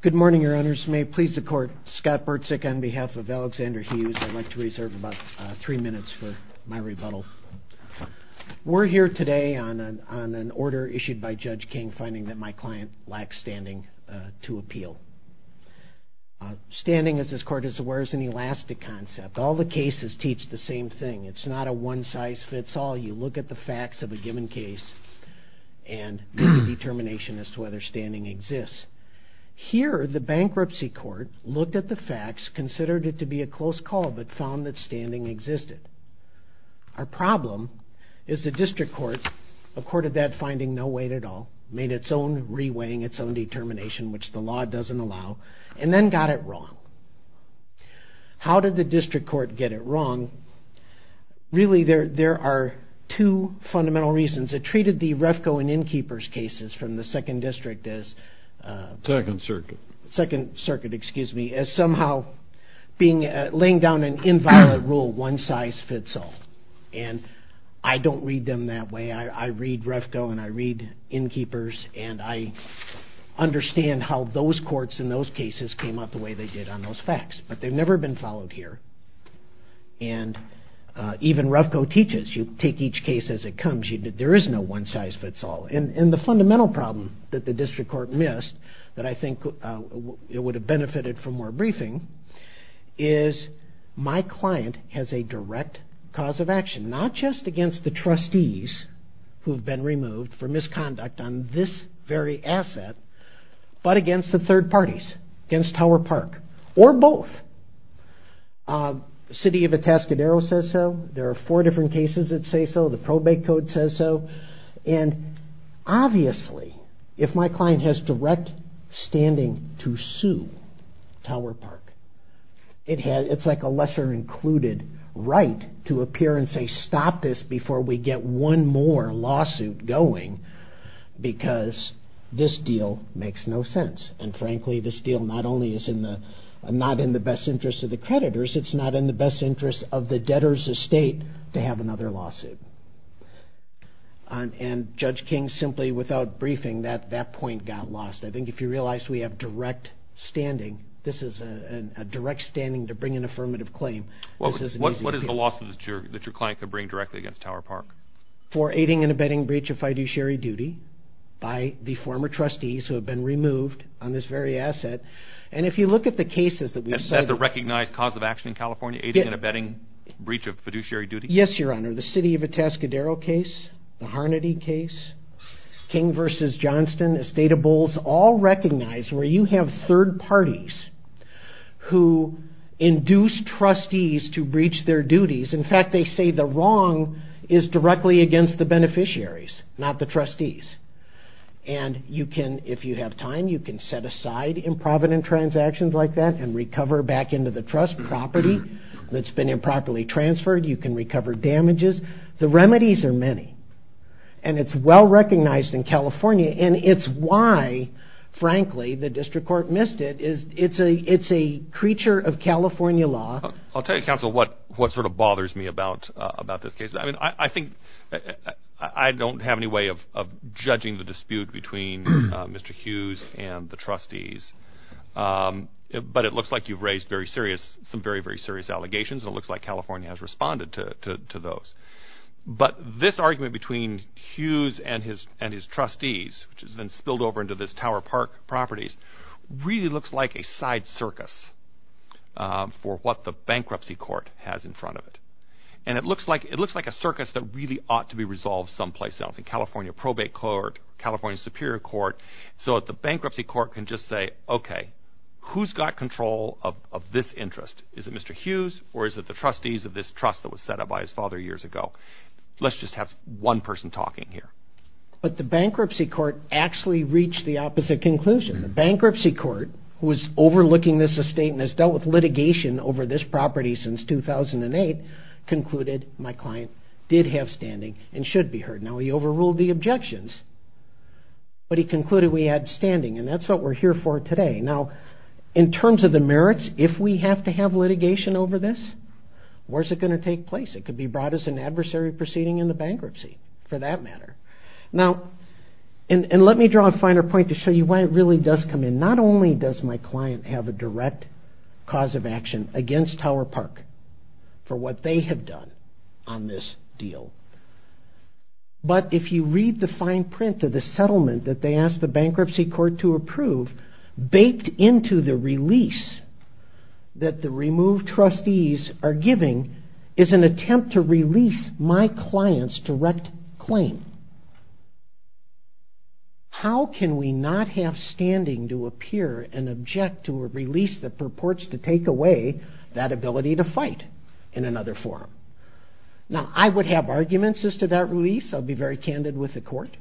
Good morning, Your Honors. May it please the Court, Scott Bertzik on behalf of Alexander Hughes. I'd like to reserve about three minutes for my rebuttal. We're here today on an order issued by Judge King finding that my client lacks standing to appeal. Standing, as this Court is aware, is an elastic concept. All the cases teach the same thing. It's not a whether standing exists. Here, the bankruptcy court looked at the facts, considered it to be a close call, but found that standing existed. Our problem is the district court accorded that finding no weight at all, made its own reweighing, its own determination, which the law doesn't allow, and then got it wrong. How did the district court get it wrong? Really, there are two fundamental reasons. It treated the Refco and Innkeepers cases from the Second District as somehow laying down an inviolate rule, one size fits all. I don't read them that way. I read Refco and I read Innkeepers, and I understand how those courts in those cases came out the way they did on those facts, but they've never been followed here. Even Refco teaches you take each case as it comes. There is no one size fits all. The fundamental problem that the district court missed that I think it would have benefited from more briefing is my client has a direct cause of action, not just against the trustees who have been removed for misconduct on this very asset, but against the third parties, against four different cases that say so, the probate code says so, and obviously if my client has direct standing to sue Tower Park, it's like a lesser included right to appear and say stop this before we get one more lawsuit going because this deal makes no sense, and frankly this deal not only is not in the best interest of the creditors, it's not in the best interest of the debtor's estate to have another lawsuit, and Judge King simply without briefing that point got lost. I think if you realize we have direct standing, this is a direct standing to bring an affirmative claim. What is the lawsuit that your client could bring directly against Tower Park? For aiding and abetting breach of fiduciary duty by the former trustees who have been removed on this very asset, and if you look at the cases that we've cited... Breach of fiduciary duty? Yes, Your Honor, the City of Atascadero case, the Harnedy case, King v. Johnston, Estata Bowles, all recognize where you have third parties who induce trustees to breach their duties, in fact they say the wrong is directly against the beneficiaries, not the trustees, and you can, if you have time, you can set aside improvident transactions like that and recover back into the trust property that's been improperly transferred. You can recover damages. The remedies are many, and it's well recognized in California, and it's why, frankly, the district court missed it. It's a creature of California law. I'll tell you, Counsel, what sort of bothers me about this case. I think I don't have any way of judging the dispute between Mr. Hughes and the trustees, but it looks like you've raised some very, very serious allegations, and it looks like California has responded to those, but this argument between Hughes and his trustees, which has been spilled over into this Tower Park properties, really looks like a side circus for what the bankruptcy court has in front of it, and it looks like a circus that really ought to be resolved someplace else, in California Probate Court, California Superior Court, so that the bankruptcy court can just say, okay, who's got control of this interest? Is it Mr. Hughes, or is it the trustees of this trust that was set up by his father years ago? Let's just have one person talking here. But the bankruptcy court actually reached the opposite conclusion. The bankruptcy court, who is overlooking this estate and has dealt with litigation over this property since 2008, concluded my client did have standing and should be heard. Now, he overruled the objections, but he concluded we had standing, and that's what we're here for today. Now, in terms of the merits, if we have to have litigation over this, where's it going to take place? It could be brought as an adversary proceeding in the bankruptcy, for that matter. Now, and let me draw a finer point to show you why it really does come in. Not only does my client have a direct cause of action against Tower Park for what they have done on this deal, but if you read the fine print of the settlement that they asked the bankruptcy court to approve, baked into the release that the removed trustees are giving, is an attempt to release my client's direct claim. How can we not have standing to appear and object to a settlement that were released that purports to take away that ability to fight in another forum? Now, I would have arguments as to that release. I'll be very candid with the court.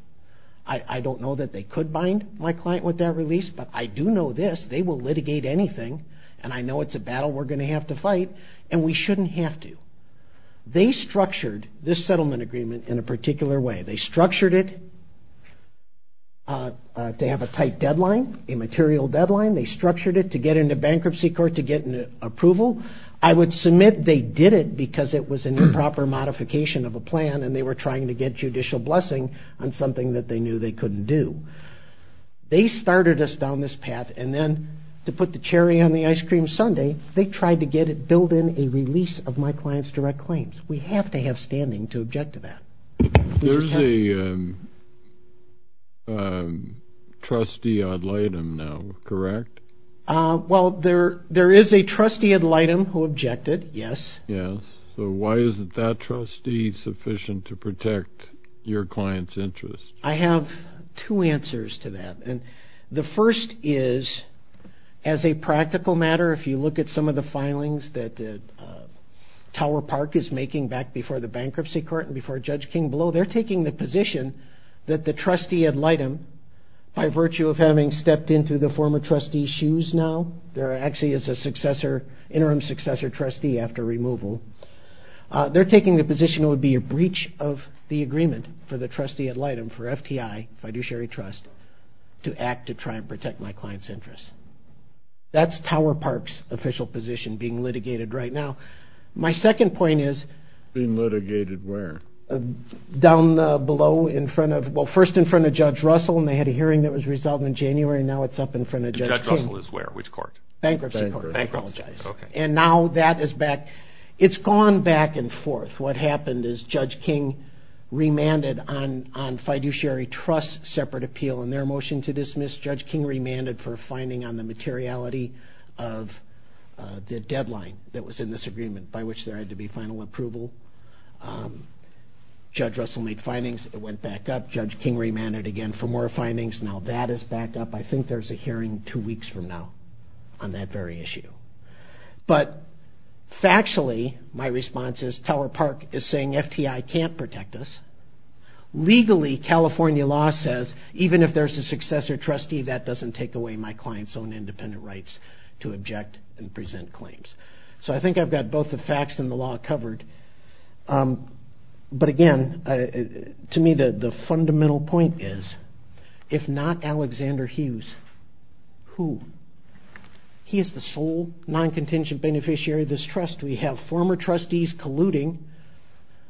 I don't know that they could bind my client with that release, but I do know this, they will litigate anything, and I know it's a battle we're going to have to fight, and we shouldn't have to. They structured this settlement agreement in a particular way. They structured it to have a tight deadline, a material deadline. They structured it to get into bankruptcy court to get an approval. I would submit they did it because it was an improper modification of a plan, and they were trying to get judicial blessing on something that they knew they couldn't do. They started us down this path, and then to put the cherry on the ice cream sundae, they tried to get it built in a release of my client's direct claims. We have to have a trustee ad litem now, correct? Well, there is a trustee ad litem who objected, yes. So why isn't that trustee sufficient to protect your client's interest? I have two answers to that, and the first is, as a practical matter, if you look at some of the filings that Tower Park is that the trustee ad litem, by virtue of having stepped into the former trustee's shoes now, there actually is an interim successor trustee after removal. They're taking the position it would be a breach of the agreement for the trustee ad litem, for FTI, fiduciary trust, to act to try and protect my client's interests. That's Tower Park's official position being litigated where? Down below in front of, well, first in front of Judge Russell, and they had a hearing that was resolved in January, now it's up in front of Judge King. Judge Russell is where, which court? Bankruptcy court. Bankruptcy court, okay. And now that is back, it's gone back and forth. What happened is Judge King remanded on fiduciary trust separate appeal, and their motion to dismiss, Judge King remanded for a finding on the materiality of the deadline that was in this hearing. Judge Russell made findings, it went back up. Judge King remanded again for more findings. Now that is back up. I think there's a hearing two weeks from now on that very issue. But factually, my response is Tower Park is saying FTI can't protect us. Legally, California law says even if there's a successor trustee, that doesn't take away my client's own independent rights to object and present claims. So I think I've got both the facts and the law covered. But again, to me, the fundamental point is, if not Alexander Hughes, who? He is the sole non-contingent beneficiary of this trust. We have former trustees colluding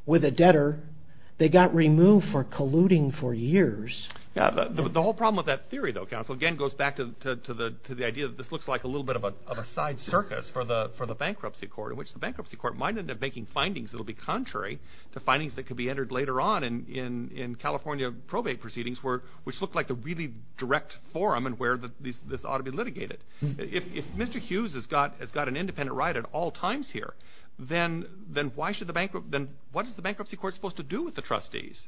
with a debtor. They got removed for colluding for years. The whole problem with that theory, though, counsel, again, goes back to the idea that this looks like a little bit of a side circus for the bankruptcy court, in which the bankruptcy court might end up making findings that will be contrary to findings that could be entered later on in California probate proceedings, which looked like a really direct forum and where this ought to be litigated. If Mr. Hughes has got an independent right at all times here, then what is the bankruptcy court supposed to do with the trustees?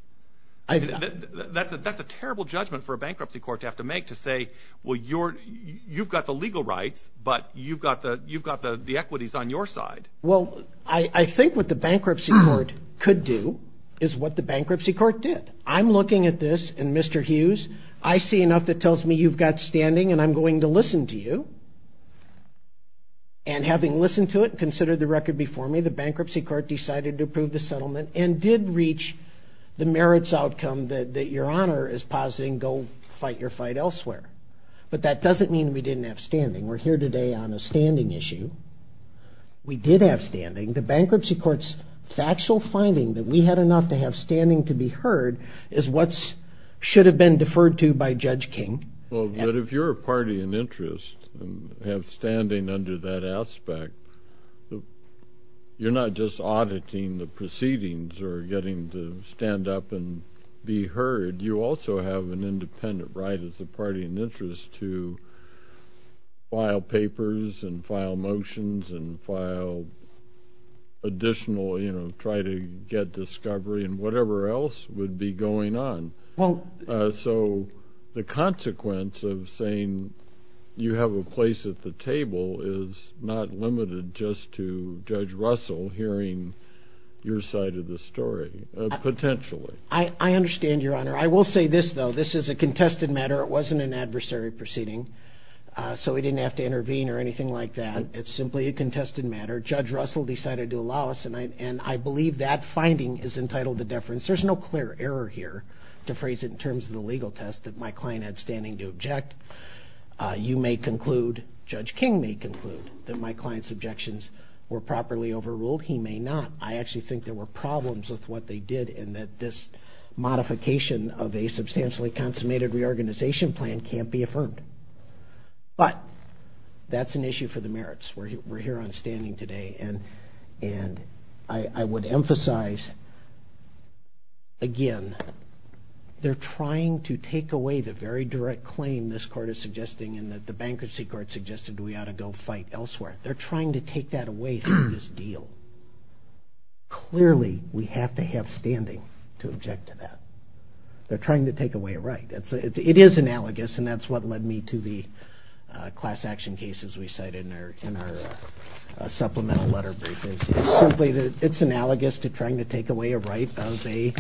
That's a terrible judgment for a bankruptcy court to have to make to say, well, you've got the legal rights, but you've got the equities on your side. Well, I think what the bankruptcy court could do is what the bankruptcy court did. I'm looking at this and Mr. Hughes, I see enough that tells me you've got standing and I'm going to listen to you. And having listened to it, consider the record before me, the bankruptcy court decided to approve the settlement and did reach the merits outcome that your honor is positing, go fight your fight elsewhere. But that doesn't mean we didn't have on a standing issue. We did have standing. The bankruptcy court's factual finding that we had enough to have standing to be heard is what's should have been deferred to by Judge King. Well, but if you're a party in interest and have standing under that aspect, you're not just auditing the proceedings or getting to stand up and be heard. You also have an independent right as a party in interest to file papers and file motions and file additional, you know, try to get discovery and whatever else would be going on. So the consequence of saying you have a place at the table is not limited just to Judge Russell hearing your side of the story potentially. I understand your honor. I will say this though. This is a contested matter. It wasn't an adversary proceeding. So we didn't have to intervene or anything like that. It's simply a contested matter. Judge Russell decided to allow us and I believe that finding is entitled to deference. There's no clear error here to phrase it in terms of the legal test that my client had standing to object. You may conclude, Judge King may conclude that my client's objections were properly overruled. He may not. I actually think there were problems with what they did and that this modification of a substantially consummated reorganization plan can't be affirmed. But that's an issue for the merits. We're here on standing today and I would emphasize again, they're trying to take away the very direct claim this court is they're trying to take that away from this deal. Clearly we have to have standing to object to that. They're trying to take away a right. It is analogous and that's what led me to the class action cases we cited in our supplemental letter brief is simply that it's analogous to trying to take away a right of a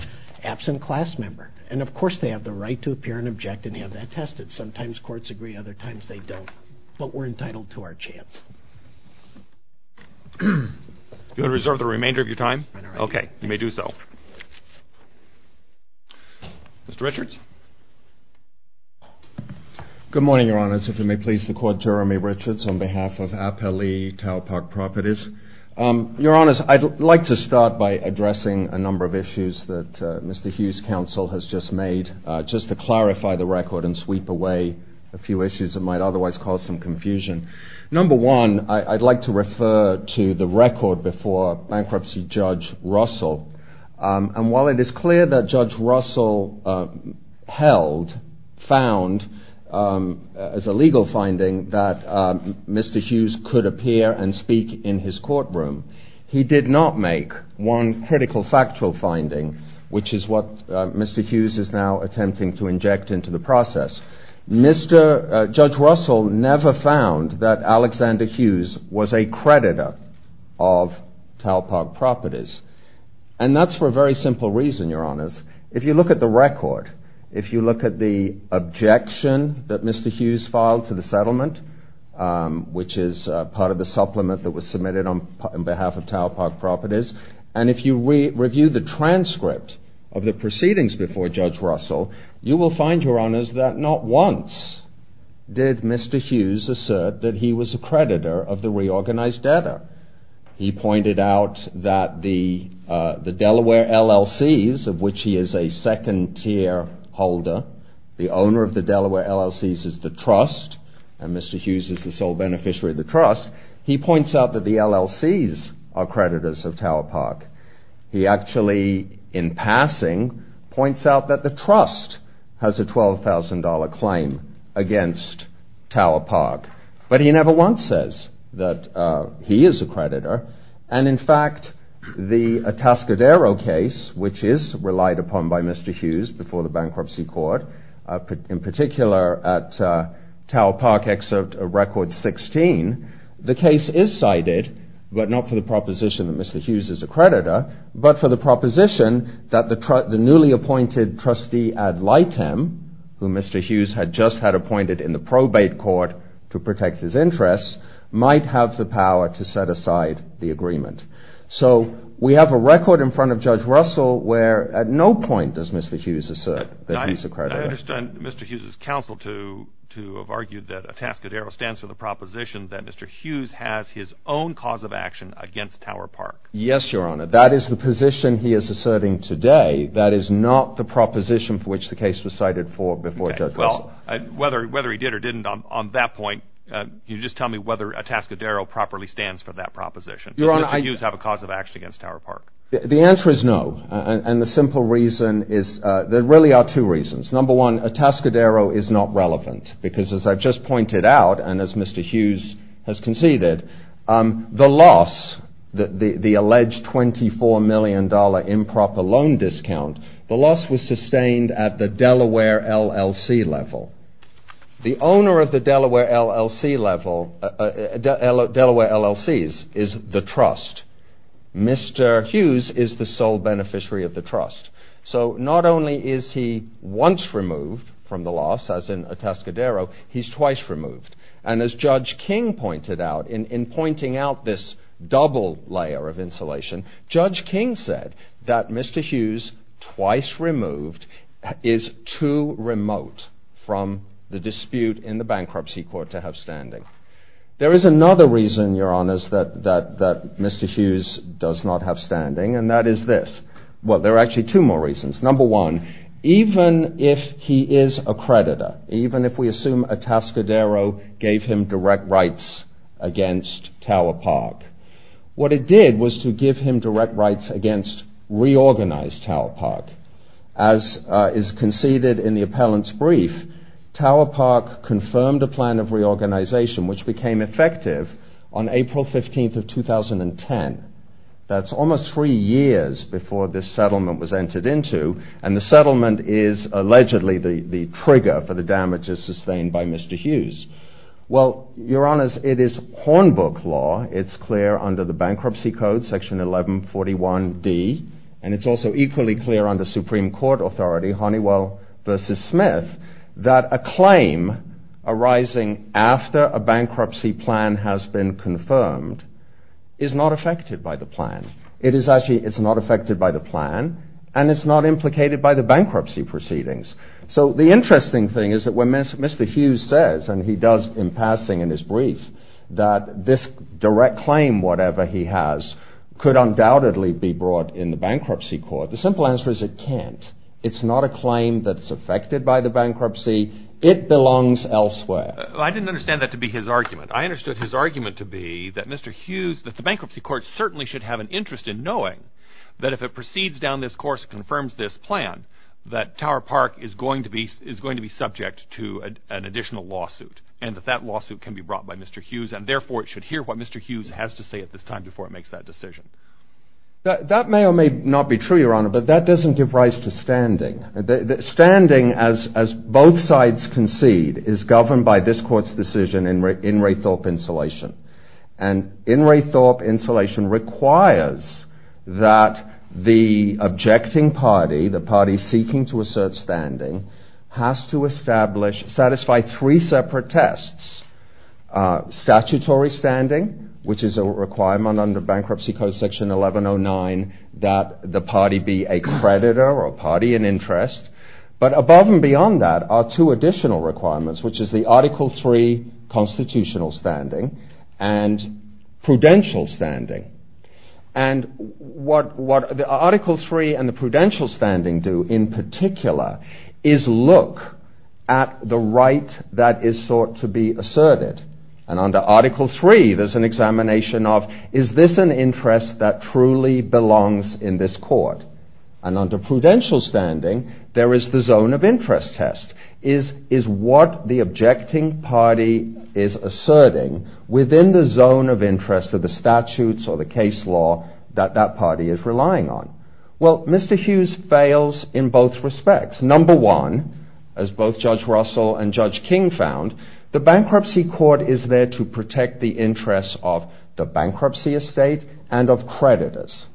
absent class member. And of course they have the right to appear and object and have that tested. Sometimes courts agree, other times they don't. But we're here to make sure that we're not taking away a right. You want to reserve the remainder of your time? Okay, you may do so. Mr. Richards? Good morning, Your Honors. If you may please the court, Jeremy Richards on behalf of Appellee Taupok Properties. Your Honors, I'd like to start by addressing a number of issues that Mr. Hughes' counsel has just made just to clarify the record and sweep away a few issues that might otherwise cause some confusion. Number one, I'd like to refer to the record before Bankruptcy Judge Russell. And while it is clear that Judge Russell held, found as a legal finding that Mr. Hughes could appear and speak in his courtroom, he did not make one critical factual finding, which is what Mr. Hughes is now attempting to inject into the process. Mr. Judge Russell never found that Alexander Hughes was a creditor of Taupok Properties. And that's for a very simple reason, Your Honors. If you look at the record, if you look at the objection that Mr. Hughes filed to the settlement, which is part of the supplement that was submitted on behalf of Taupok Properties, and if you review the transcript of the proceedings before Judge Russell, you will find, Your Honors, that not once did Mr. Hughes assert that he was a creditor of the reorganized debtor. He pointed out that the Delaware LLCs, of which he is a second-tier holder, the owner of the Delaware LLCs is the trust, and Mr. Hughes is the sole beneficiary of the trust, he points out that the LLCs are creditors of Taupok. He actually, in passing, points out that the trust has a $12,000 claim against Taupok. But he never once says that he is a creditor, and in fact, the Atascadero case, which is relied upon by Mr. Hughes before the bankruptcy court, in particular at Taupok Excerpt Record 16, the case is cited, but not the proposition that Mr. Hughes is a creditor, but for the proposition that the newly appointed trustee ad litem, who Mr. Hughes had just had appointed in the probate court to protect his interests, might have the power to set aside the agreement. So we have a record in front of Judge Russell where at no point does Mr. Hughes assert that he's a creditor. I understand Mr. Hughes' counsel to have argued that Atascadero stands for the proposition that Mr. Hughes has his own cause of action against Tower Park. Yes, Your Honor, that is the position he is asserting today. That is not the proposition for which the case was cited for before Judge Russell. Okay, well, whether he did or didn't on that point, you just tell me whether Atascadero properly stands for that proposition. Does Mr. Hughes have a cause of action against Tower Park? The answer is no, and the simple reason is there really are two reasons. Number one, Atascadero is not relevant, because as I've just pointed out, and as Mr. Hughes has conceded, the loss, the alleged $24 million improper loan discount, the loss was sustained at the Delaware LLC level. The owner of the Delaware LLC level, Delaware LLCs, is the trust. Mr. Hughes is the sole beneficiary of the trust. So not only is he once removed from the loss, as in Atascadero, he's twice removed. And as Judge King pointed out, in pointing out this double layer of insulation, Judge King said that Mr. Hughes twice removed is too remote from the dispute in the bankruptcy court to have standing. There is another reason, Your Honors, that Mr. Hughes does not have standing, and that is this. Well, there are actually two more reasons. Number one, even if he is a creditor, even if we assume Atascadero gave him direct rights against Tower Park, what it did was to give him direct rights against reorganized Tower Park. As is conceded in the appellant's brief, Tower Park confirmed a plan of reorganization, which became effective on April 15th of 2010. That's almost three years before this settlement was entered into, and the settlement is allegedly the trigger for the damages sustained by Mr. Hughes. Well, Your Honors, it is Hornbook law. It's clear under the Bankruptcy Code, Section 1141d, and it's also equally clear under Supreme Court authority, Honeywell v. Smith, that a claim arising after a bankruptcy plan has been confirmed is not affected by the plan. It is actually, it's not affected by the plan, and it's not implicated by the bankruptcy proceedings. So the interesting thing is that when Mr. Hughes says, and he does in passing in his brief, that this direct claim, whatever he has, could undoubtedly be brought in the bankruptcy court, the simple answer is it can't. It's not a claim that's affected by the bankruptcy. It belongs elsewhere. I didn't understand that to be his argument. I understood his argument to be that Mr. Hughes, that the bankruptcy court certainly should have an interest in knowing that if it proceeds down this course, confirms this plan, that Tower Park is going to be subject to an additional lawsuit, and that that lawsuit can be brought by Mr. Hughes, and therefore it should hear what Mr. Hughes has to say at this time before it makes that decision. That may or may not be true, Your Honor, but that doesn't give rise to standing. Standing, as both sides concede, is governed by this court's decision in Raythorpe insulation, and in Raythorpe insulation requires that the objecting party, the party seeking to assert standing, has to establish, satisfy three separate tests. Statutory standing, which is a bankruptcy code section 1109, that the party be a creditor or party in interest, but above and beyond that are two additional requirements, which is the article three constitutional standing and prudential standing, and what the article three and the prudential standing do in particular is look at the right that is sought to be asserted, and under article three there's an examination of is this an interest that truly belongs in this court, and under prudential standing there is the zone of interest test, is what the objecting party is asserting within the zone of interest of the statutes or the case law that that party is relying on. Well, Mr. Hughes fails in both respects. Number one, as both Judge Russell and Judge King found, the bankruptcy court is there to protect the estate and of creditors.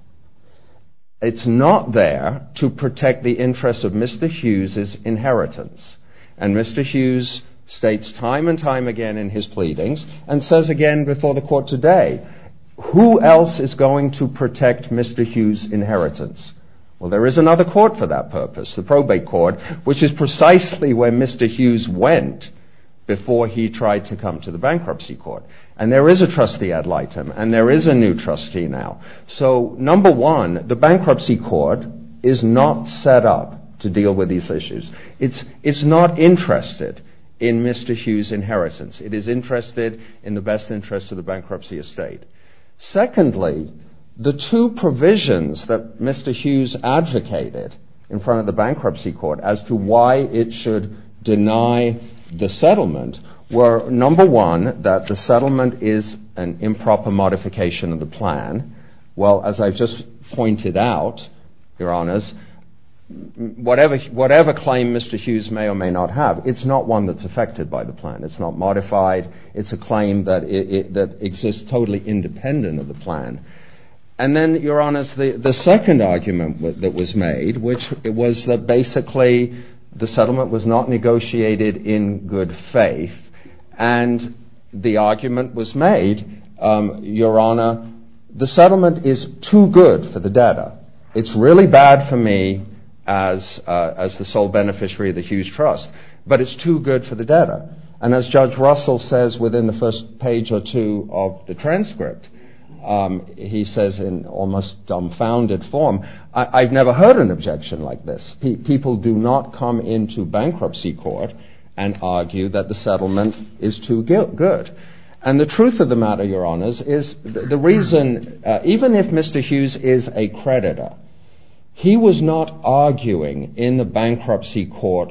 It's not there to protect the interest of Mr. Hughes's inheritance, and Mr. Hughes states time and time again in his pleadings and says again before the court today, who else is going to protect Mr. Hughes's inheritance? Well, there is another court for that purpose, the probate court, which is precisely where Mr. Hughes went before he tried to come to the bankruptcy court, and there is a trustee ad litem, and there is a new trustee now. So number one, the bankruptcy court is not set up to deal with these issues. It's not interested in Mr. Hughes's inheritance. It is interested in the best interest of the bankruptcy estate. Secondly, the two provisions that Mr. Hughes advocated in front of the bankruptcy court as to why it should deny the settlement were, number one, that the settlement is an improper modification of the plan. Well, as I've just pointed out, Your Honours, whatever claim Mr. Hughes may or may not have, it's not one that's affected by the plan. It's not modified. It's a claim that exists totally independent of the plan. And then, Your Honours, the second argument that was made, which it was that basically the settlement was not negotiated in good faith, and the argument was made, Your Honour, the settlement is too good for the debtor. It's really bad for me as the sole beneficiary of the Hughes Trust, but it's too good for the debtor. And as Judge Russell says within the first page or two of the transcript, he says in almost dumbfounded form, I've never heard an objection like this. People do not come into bankruptcy court and argue that the settlement is too good. And the truth of the matter, Your Honours, is the reason, even if Mr. Hughes is a creditor, he was not arguing in the bankruptcy court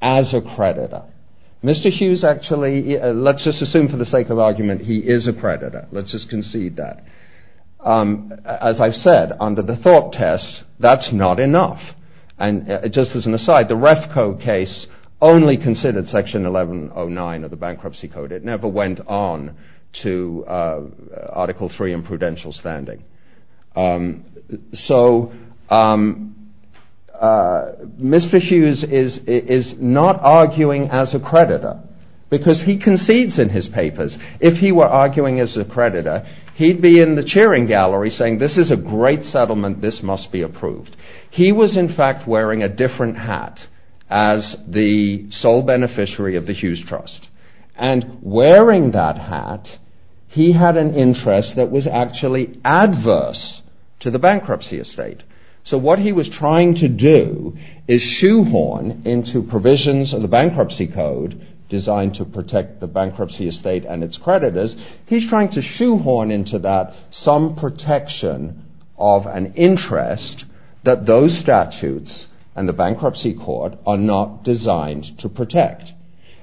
as a creditor. Mr. Hughes actually, let's just assume for the sake of argument, he is a creditor. Let's just concede that. As I've said, under the thought test, that's not enough. And just as an aside, the REFCO case only considered Section 1109 of the Bankruptcy Code. It never went on to Article 3 in prudential standing. So Mr. Hughes is not arguing as a creditor because he concedes in his papers. If he were arguing as a creditor, he'd be in the He was in fact wearing a different hat as the sole beneficiary of the Hughes Trust. And wearing that hat, he had an interest that was actually adverse to the bankruptcy estate. So what he was trying to do is shoehorn into provisions of the Bankruptcy Code, designed to protect the bankruptcy estate and its creditors, he's trying to shoehorn into that some protection of an interest that those statutes and the bankruptcy court are not designed to protect.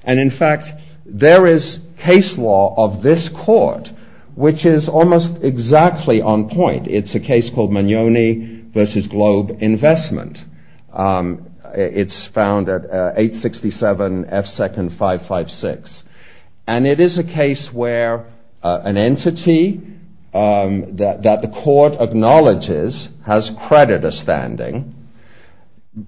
And in fact, there is case law of this court, which is almost exactly on point. It's a case called Mignoni v. Globe Investment. It's found at 867 F. Second 556. And it is a case where an entity that the court acknowledges has creditor standing,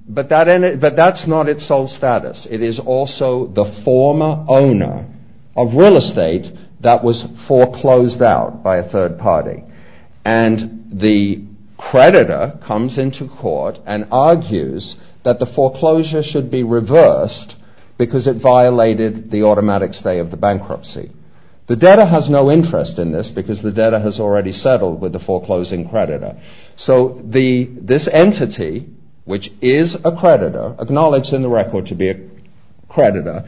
but that's not its sole status. It is also the former owner of real estate that was foreclosed out by a third party. And the creditor comes into court and argues that the foreclosure should be of the bankruptcy. The debtor has no interest in this because the debtor has already settled with the foreclosing creditor. So this entity, which is a creditor, acknowledged in the record to be a creditor,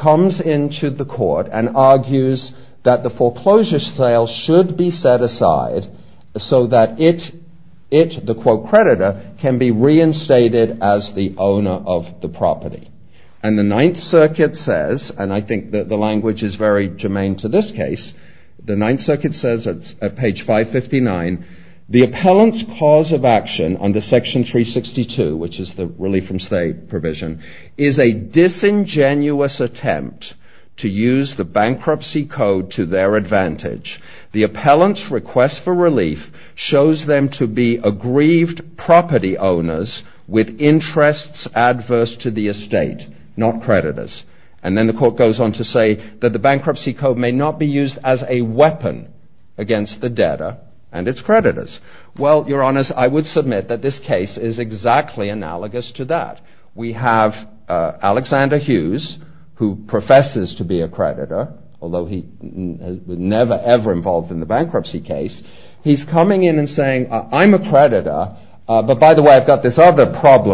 comes into the court and argues that the foreclosure sale should be set aside, so that it, the quote creditor, can be reinstated as the owner of the property. And the Ninth Circuit says, and I think that the language is very germane to this case, the Ninth Circuit says at page 559, the appellant's cause of action under section 362, which is the relief from state provision, is a disingenuous attempt to use the bankruptcy code to their advantage. The appellant's request for relief shows them to be aggrieved property owners with interests adverse to the estate, not creditors. And then the court goes on to say that the bankruptcy code may not be used as a weapon against the debtor and its creditors. Well, Your Honor, I would submit that this case is exactly analogous to that. We have Alexander Hughes, who professes to be a creditor, although he was never ever involved in the problem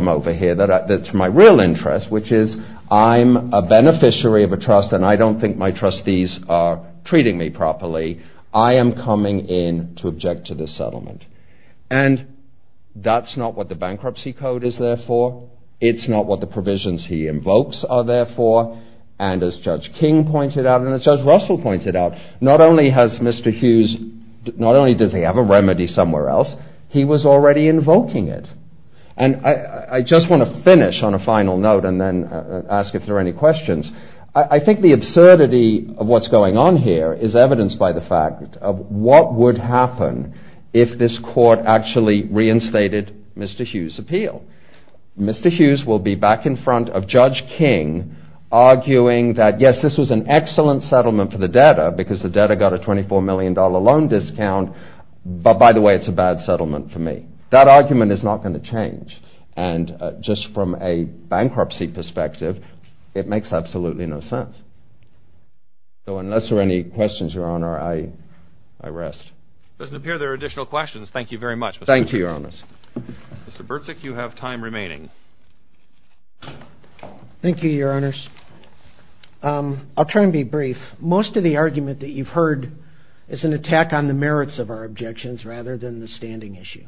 over here that's my real interest, which is I'm a beneficiary of a trust and I don't think my trustees are treating me properly. I am coming in to object to this settlement. And that's not what the bankruptcy code is there for. It's not what the provisions he invokes are there for. And as Judge King pointed out, and as Judge Russell pointed out, not only has Mr. Hughes, not only does he have a remedy somewhere else, he was already invoking it. And I just want to finish on a final note and then ask if there are any questions. I think the absurdity of what's going on here is evidenced by the fact of what would happen if this court actually reinstated Mr. Hughes' appeal. Mr. Hughes will be back in front of Judge King arguing that, yes, this was an excellent settlement for the debtor because the debtor got a $24 million loan discount, but by the way, it's a bad settlement for me. That argument is not going to change. And just from a bankruptcy perspective, it makes absolutely no sense. So unless there are any questions, Your Honor, I rest. It doesn't appear there are additional questions. Thank you very much, Mr. Hughes. Thank you, Your Honors. Mr. Bertzik, you have time remaining. Thank you, Your Honors. I'll try and be brief. Most of the argument that you've heard is an attack on the merits of our objections rather than the standing issue.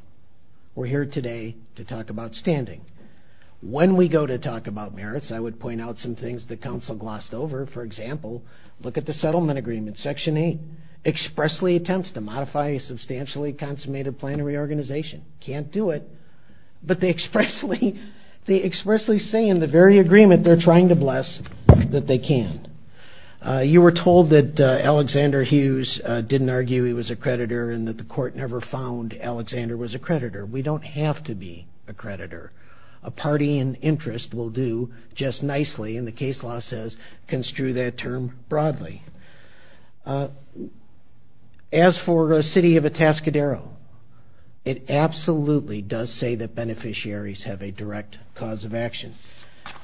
We're here today to talk about standing. When we go to talk about merits, I would point out some things that counsel glossed over. For example, look at the settlement agreement. Section 8 expressly attempts to modify a substantially consummated plan of reorganization. Can't do it, but they expressly say in the very agreement they're trying to bless that they can. You were told that Alexander Hughes didn't argue he was a creditor and that the court never found Alexander was a creditor. We don't have to be a creditor. A party in interest will do just nicely, and the case law says construe that term broadly. As for the city of Atascadero, it absolutely does say that beneficiaries have a direct cause of action.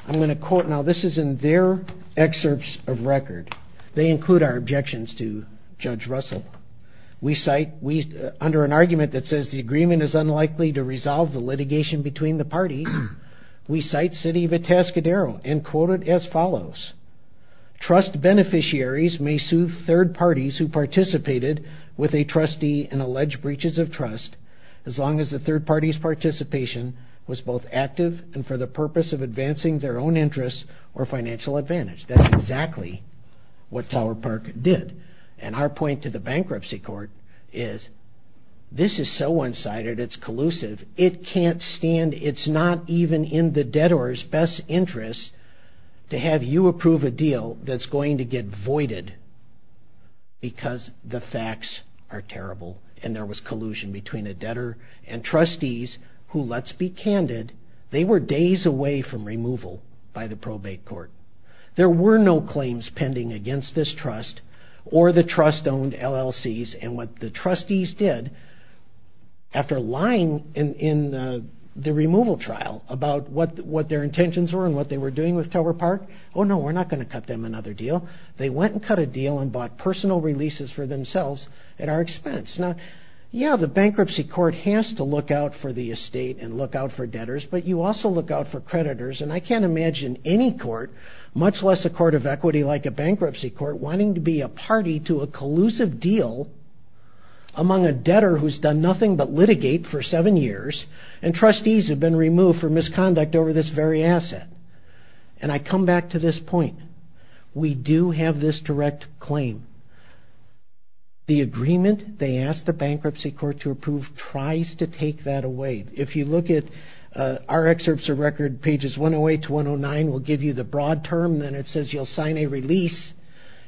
I'm going to quote now. This is in their excerpts of record. They include our objections to Judge Russell. Under an argument that says the agreement is unlikely to resolve the litigation between the parties, we cite city of Atascadero and quote it as follows. Trust beneficiaries may sue third parties who participated with a trustee and allege breaches of trust as long as the third party's participation was both active and for the purpose of advancing their own interests or financial advantage. That's exactly what Tower Park did, and our point to the bankruptcy court is this is so one-sided, it's collusive, it can't stand, it's not even in the debtor's best interest to have you approve a deal that's going to get voided because the facts are terrible, and there was collusion between a debtor and trustees who, let's be candid, they were days away from removal by the probate court. There were no claims pending against this trust or the trust-owned LLCs, and what the trustees did after lying in the removal trial about what their intentions were and what they were doing with Tower Park, oh no, we're not going to cut them another deal. They went and cut a deal and bought personal releases for themselves at our expense. Now, yeah, the bankruptcy court has to look out for the estate and look out for debtors, but you also look out for creditors, and I can't imagine any court, much less a court of equity like a among a debtor who's done nothing but litigate for seven years, and trustees have been removed for misconduct over this very asset, and I come back to this point. We do have this direct claim. The agreement they asked the bankruptcy court to approve tries to take that away. If you look at our excerpts of record, pages 108 to 109 will give you the broad term, then it says you'll sign a release.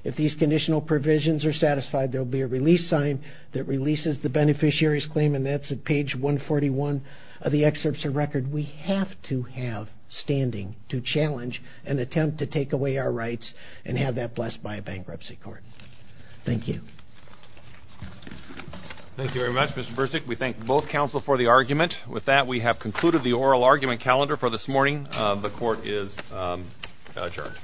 If these conditional provisions are satisfied, there'll be a release sign that releases the beneficiary's claim, and that's at page 141 of the excerpts of record. We have to have standing to challenge and attempt to take away our rights and have that blessed by a bankruptcy court. Thank you. Thank you very much, Mr. Bursick. We thank both counsel for the argument. With that, we have concluded the oral argument calendar for this morning. The court is adjourned.